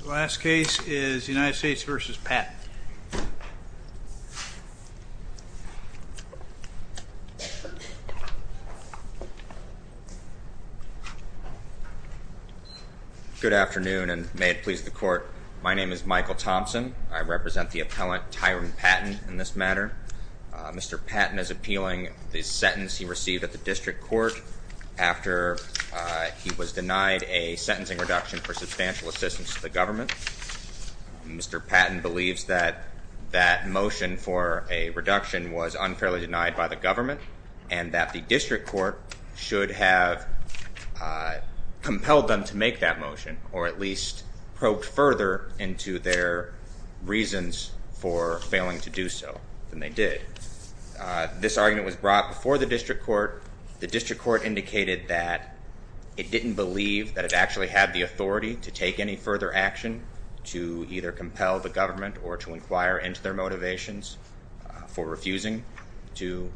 The last case is United States v. Patton. Good afternoon, and may it please the court, my name is Michael Thompson. I represent the appellant, Tyran Patton, in this matter. Mr. Patton is appealing the sentence he received at the district court after he was denied a sentencing reduction for substantial assistance to the government. Mr. Patton believes that that motion for a reduction was unfairly denied by the government and that the district court should have compelled them to make that motion or at least probed further into their reasons for failing to do so than they did. This argument was brought before the district court. The district court indicated that it didn't believe that it actually had the authority to take any further action to either compel the government or to inquire into their motivations for refusing to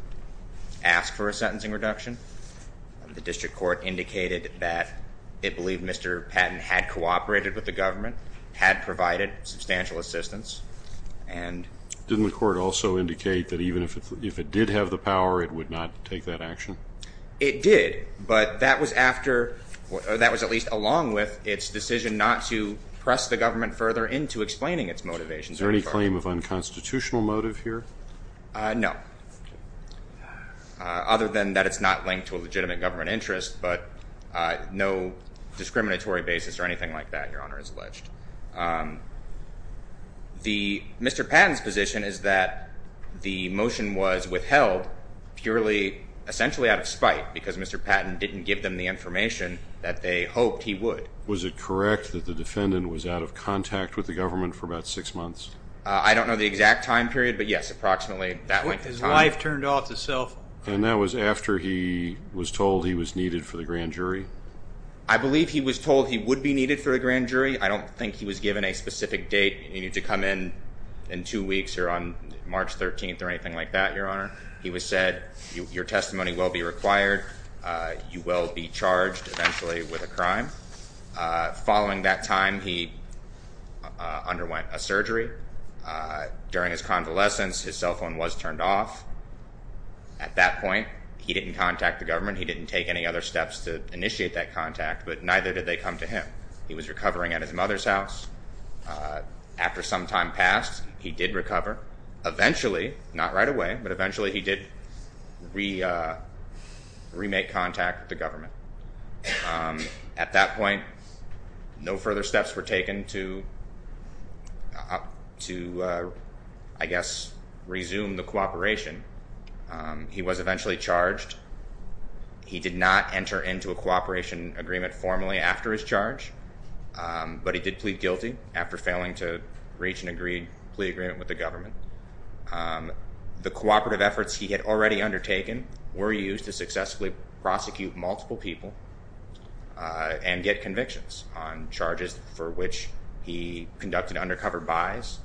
ask for a sentencing reduction. The district court indicated that it believed Mr. Patton had cooperated with the government, had provided substantial assistance. Didn't the court also indicate that even if it did have the power, it would not take that action? It did, but that was after or that was at least along with its decision not to press the government further into explaining its motivations. Is there any claim of unconstitutional motive here? No, other than that it's not linked to a legitimate government interest, but no discriminatory basis or anything like that, Your Honor, is alleged. Mr. Patton's position is that the motion was withheld purely essentially out of spite because Mr. Patton didn't give them the information that they hoped he would. Was it correct that the defendant was out of contact with the government for about six months? I don't know the exact time period, but yes, approximately that length of time. His wife turned off the cell phone. And that was after he was told he was needed for the grand jury? I believe he was told he would be needed for the grand jury. I don't think he was given a specific date, you need to come in in two weeks or on March 13th or anything like that, Your Honor. He was said, your testimony will be required. You will be charged eventually with a crime. Following that time, he underwent a surgery. During his convalescence, his cell phone was turned off. At that point, he didn't contact the government. He didn't take any other steps to initiate that contact, but neither did they come to him. He was recovering at his mother's house. After some time passed, he did recover. Eventually, not right away, but eventually he did remake contact with the government. At that point, no further steps were taken to, I guess, resume the cooperation. He was eventually charged. He did not enter into a cooperation agreement formally after his charge, but he did plead guilty after failing to reach an agreed plea agreement with the government. The cooperative efforts he had already undertaken were used to successfully prosecute multiple people and get convictions on charges for which he conducted undercover buys,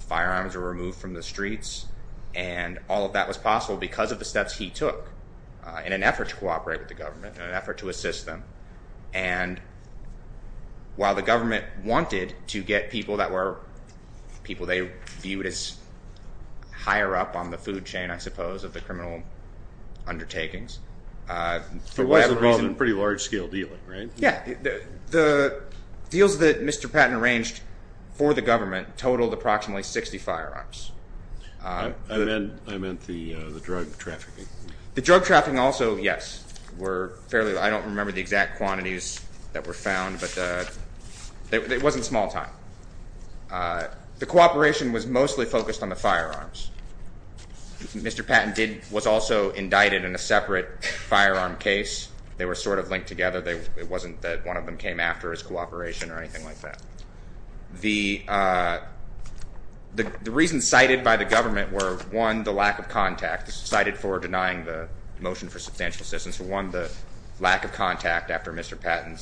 firearms were removed from the streets, and all of that was possible because of the steps he took in an effort to cooperate with the government, in an effort to assist them. And while the government wanted to get people that were people they viewed as higher up on the food chain, I suppose, of the criminal undertakings, for whatever reason— It was involved in pretty large-scale dealing, right? Yeah. The deals that Mr. Patton arranged for the government totaled approximately 60 firearms. I meant the drug trafficking. The drug trafficking also, yes, were fairly—I don't remember the exact quantities that were found, but it wasn't a small time. The cooperation was mostly focused on the firearms. Mr. Patton was also indicted in a separate firearm case. They were sort of linked together. It wasn't that one of them came after his cooperation or anything like that. The reasons cited by the government were, one, the lack of contact. This is cited for denying the motion for substantial assistance. One, the lack of contact after Mr. Patton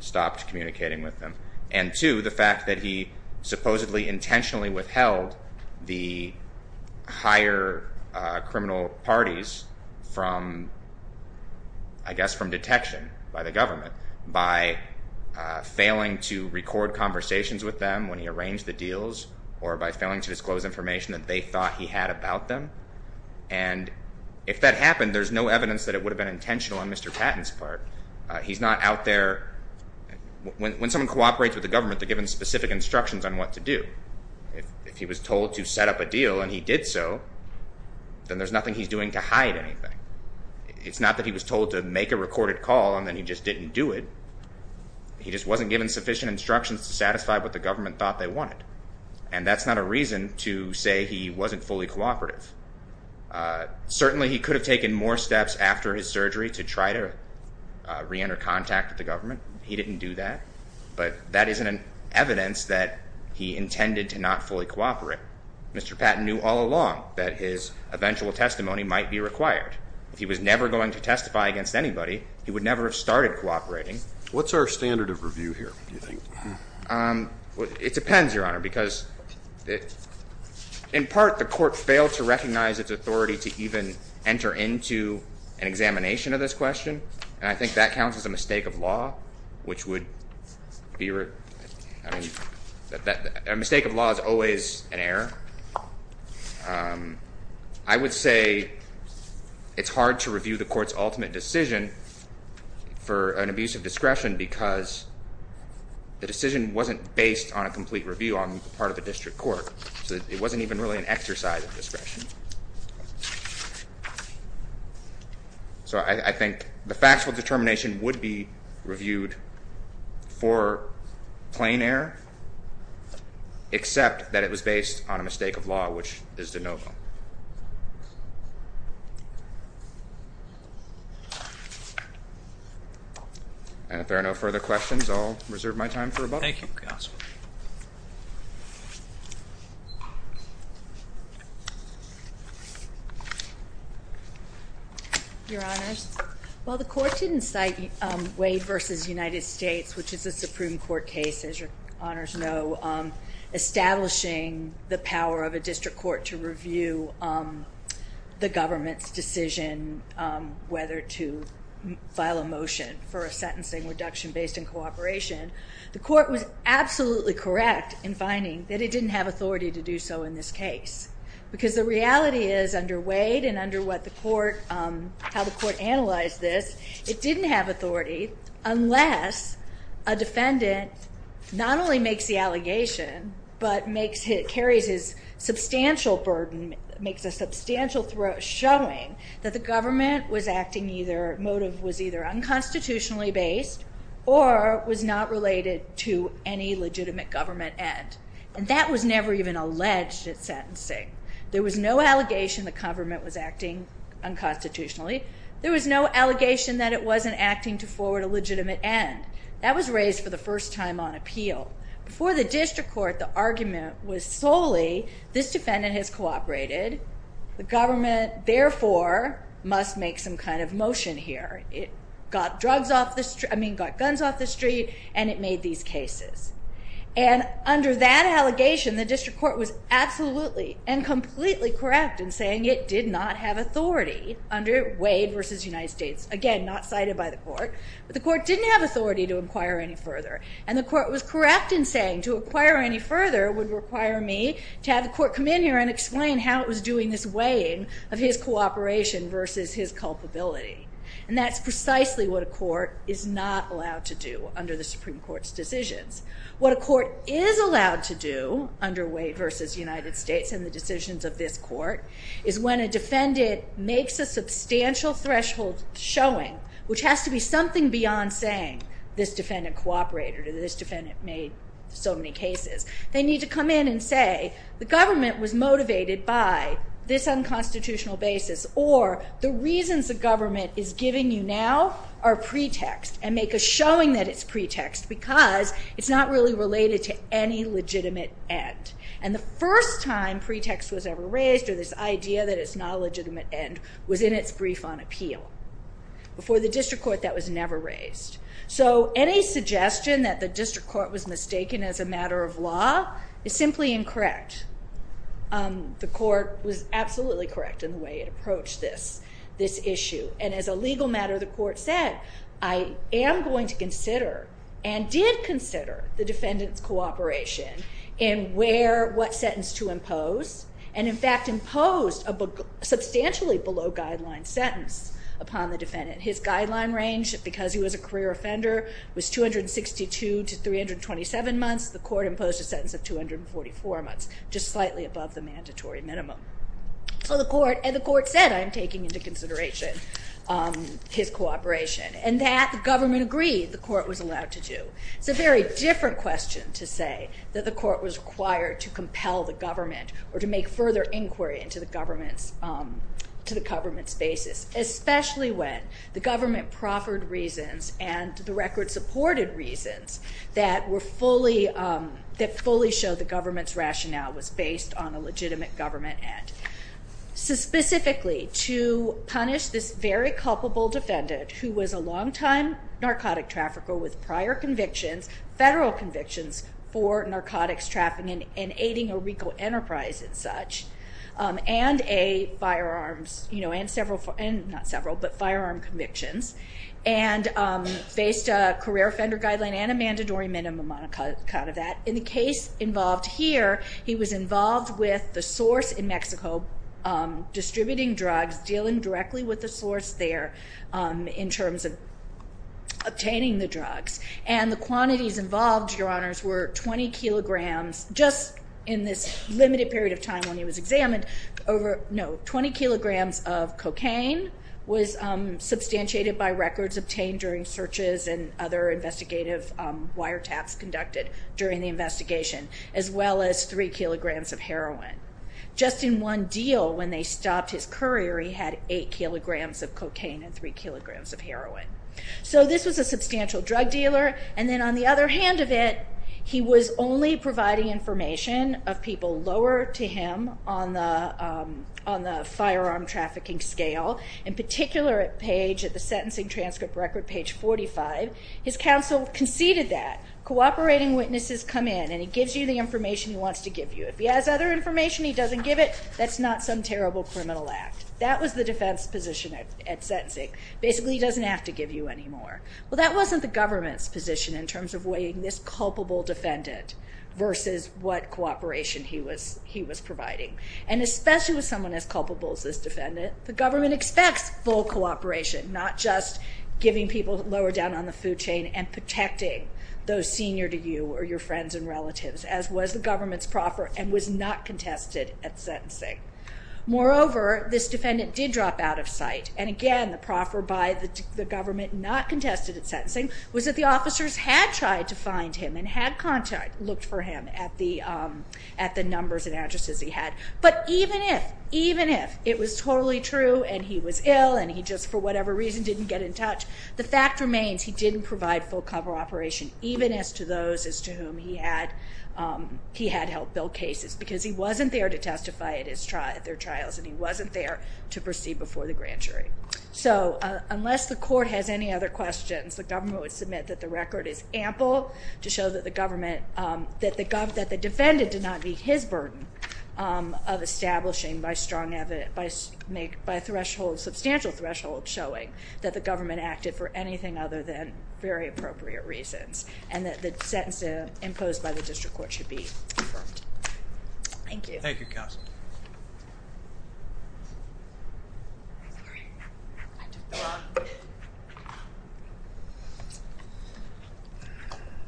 stopped communicating with them, and two, the fact that he supposedly intentionally withheld the higher criminal parties from, I guess, from detection by the government by failing to record conversations with them when he arranged the deals or by failing to disclose information that they thought he had about them. And if that happened, there's no evidence that it would have been intentional on Mr. Patton's part. He's not out there—when someone cooperates with the government, they're given specific instructions on what to do. If he was told to set up a deal and he did so, then there's nothing he's doing to hide anything. It's not that he was told to make a recorded call and then he just didn't do it. He just wasn't given sufficient instructions to satisfy what the government thought they wanted, and that's not a reason to say he wasn't fully cooperative. Certainly, he could have taken more steps after his surgery to try to reenter contact with the government. He didn't do that, but that isn't evidence that he intended to not fully cooperate. Mr. Patton knew all along that his eventual testimony might be required. If he was never going to testify against anybody, he would never have started cooperating. What's our standard of review here, do you think? It depends, Your Honor, because in part the court failed to recognize its authority to even enter into an examination of this question, and I think that counts as a mistake of law, which would be a mistake of law is always an error. I would say it's hard to review the court's ultimate decision for an abuse of discretion because the decision wasn't based on a complete review on the part of the district court, so it wasn't even really an exercise of discretion. So I think the factual determination would be reviewed for plain error, except that it was based on a mistake of law, which is de novo. And if there are no further questions, I'll reserve my time for rebuttal. Thank you, counsel. Your Honors, while the court didn't cite Wade v. United States, which is a Supreme Court case, as Your Honors know, establishing the power of a district court to review the government's decision whether to file a motion for a sentencing reduction based on cooperation, the court was absolutely correct in finding that it didn't have authority to do so in this case because the reality is under Wade and under how the court analyzed this, it didn't have authority unless a defendant not only makes the allegation but carries his substantial burden, makes a substantial showing that the government motive was either unconstitutionally based or was not related to any legitimate government end. And that was never even alleged at sentencing. There was no allegation the government was acting unconstitutionally. There was no allegation that it wasn't acting to forward a legitimate end. That was raised for the first time on appeal. Before the district court, the argument was solely this defendant has cooperated. The government, therefore, must make some kind of motion here. It got guns off the street and it made these cases. And under that allegation, the district court was absolutely and completely correct in saying it did not have authority under Wade v. United States. Again, not cited by the court, but the court didn't have authority to inquire any further. And the court was correct in saying to inquire any further would require me to have the court come in here and explain how it was doing this weighing of his cooperation versus his culpability. And that's precisely what a court is not allowed to do under the Supreme Court's decisions. What a court is allowed to do under Wade v. United States and the decisions of this court is when a defendant makes a substantial threshold showing, which has to be something beyond saying this defendant cooperated or this defendant made so many cases. They need to come in and say the government was motivated by this unconstitutional basis or the reasons the government is giving you now are pretext and make a showing that it's pretext because it's not really related to any legitimate end. And the first time pretext was ever raised or this idea that it's not a legitimate end was in its brief on appeal. Before the district court, that was never raised. So any suggestion that the district court was mistaken as a matter of law is simply incorrect. The court was absolutely correct in the way it approached this issue. And as a legal matter, the court said, I am going to consider and did consider the defendant's cooperation in what sentence to impose and, in fact, imposed a substantially below guideline sentence upon the defendant. His guideline range, because he was a career offender, was 262 to 327 months. The court imposed a sentence of 244 months, just slightly above the mandatory minimum. And the court said, I'm taking into consideration his cooperation, and that the government agreed the court was allowed to do. It's a very different question to say that the court was required to compel the government or to make further inquiry into the government's basis, especially when the government proffered reasons and the record supported reasons that fully showed the government's rationale was based on a legitimate government end. Specifically, to punish this very culpable defendant, who was a long-time narcotic trafficker with prior convictions, federal convictions for narcotics trafficking and aiding a legal enterprise and such, and a firearms, you know, and several, not several, but firearm convictions, and faced a career offender guideline and a mandatory minimum on account of that. In the case involved here, he was involved with the source in Mexico distributing drugs, dealing directly with the source there in terms of obtaining the drugs. And the quantities involved, Your Honors, were 20 kilograms, just in this limited period of time when he was examined, over, no, 20 kilograms of cocaine was substantiated by records obtained during searches and other investigative wiretaps conducted during the investigation, as well as 3 kilograms of heroin. Just in one deal, when they stopped his courier, he had 8 kilograms of cocaine and 3 kilograms of heroin. So this was a substantial drug dealer, and then on the other hand of it, he was only providing information of people lower to him on the firearm trafficking scale, in particular at page, at the sentencing transcript record, page 45. His counsel conceded that. Cooperating witnesses come in, and he gives you the information he wants to give you. If he has other information and he doesn't give it, that's not some terrible criminal act. That was the defense position at sentencing. Basically, he doesn't have to give you any more. Well, that wasn't the government's position in terms of weighing this culpable defendant versus what cooperation he was providing. And especially with someone as culpable as this defendant, the government expects full cooperation, not just giving people lower down on the food chain and protecting those senior to you or your friends and relatives, as was the government's proffer and was not contested at sentencing. Moreover, this defendant did drop out of sight, and again the proffer by the government not contested at sentencing, was that the officers had tried to find him and had looked for him at the numbers and addresses he had. But even if, even if it was totally true and he was ill and he just for whatever reason didn't get in touch, the fact remains he didn't provide full cover operation, even as to those as to whom he had helped build cases, because he wasn't there to testify at their trials and he wasn't there to proceed before the grand jury. So unless the court has any other questions, the government would submit that the record is ample to show that the government, that the defendant did not meet his burden of establishing by strong evidence, by a threshold, substantial threshold, showing that the government acted for anything other than very appropriate reasons and that the sentencing imposed by the district court should be confirmed. Thank you.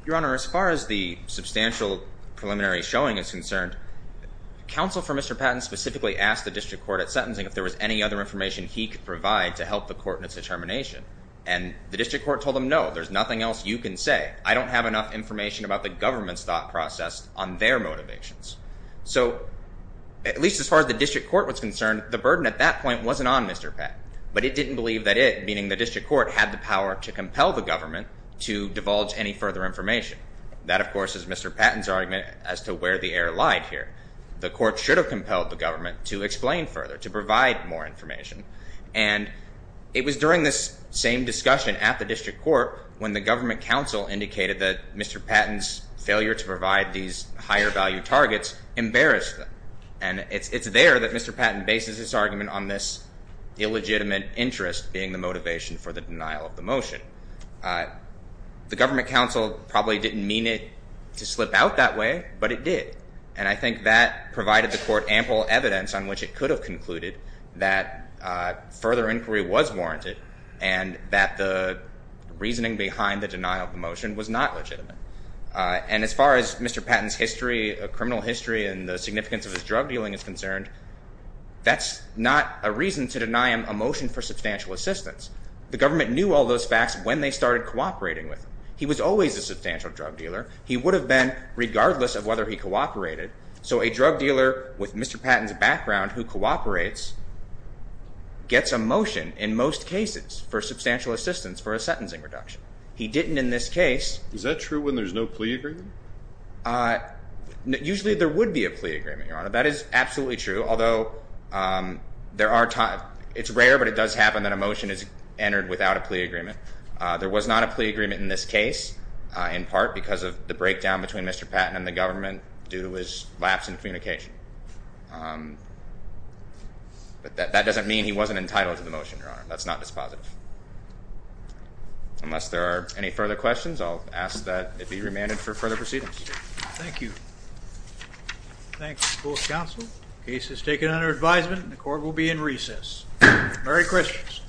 Your Honor, as far as the substantial preliminary showing is concerned, counsel for Mr. Patton specifically asked the district court at sentencing if there was any other information he could provide to help the court in its determination. And the district court told him, no, there's nothing else you can say. I don't have enough information about the government's thought process on their motivations. So at least as far as the district court was concerned, the burden at that point wasn't on Mr. Patton. But it didn't believe that it, meaning the district court, had the power to compel the government to divulge any further information. That, of course, is Mr. Patton's argument as to where the error lied here. The court should have compelled the government to explain further, to provide more information. And it was during this same discussion at the district court when the government counsel indicated that Mr. Patton's failure to provide these higher value targets embarrassed them. And it's there that Mr. Patton bases his argument on this illegitimate interest being the motivation for the denial of the motion. The government counsel probably didn't mean it to slip out that way, but it did. And I think that provided the court ample evidence on which it could have concluded that further inquiry was warranted and that the reasoning behind the denial of the motion was not legitimate. And as far as Mr. Patton's history, criminal history, and the significance of his drug dealing is concerned, that's not a reason to deny him a motion for substantial assistance. The government knew all those facts when they started cooperating with him. He was always a substantial drug dealer. He would have been regardless of whether he cooperated. So a drug dealer with Mr. Patton's background who cooperates gets a motion in most cases for substantial assistance for a sentencing reduction. He didn't in this case. Is that true when there's no plea agreement? Usually there would be a plea agreement, Your Honor. That is absolutely true, although it's rare, but it does happen that a motion is entered without a plea agreement. There was not a plea agreement in this case, in part because of the breakdown between Mr. Patton and the government due to his lapse in communication. But that doesn't mean he wasn't entitled to the motion, Your Honor. That's not dispositive. Unless there are any further questions, I'll ask that it be remanded for further proceedings. Thank you. Thank you, both counsel. The case is taken under advisement and the court will be in recess. Merry Christmas. Merry Christmas.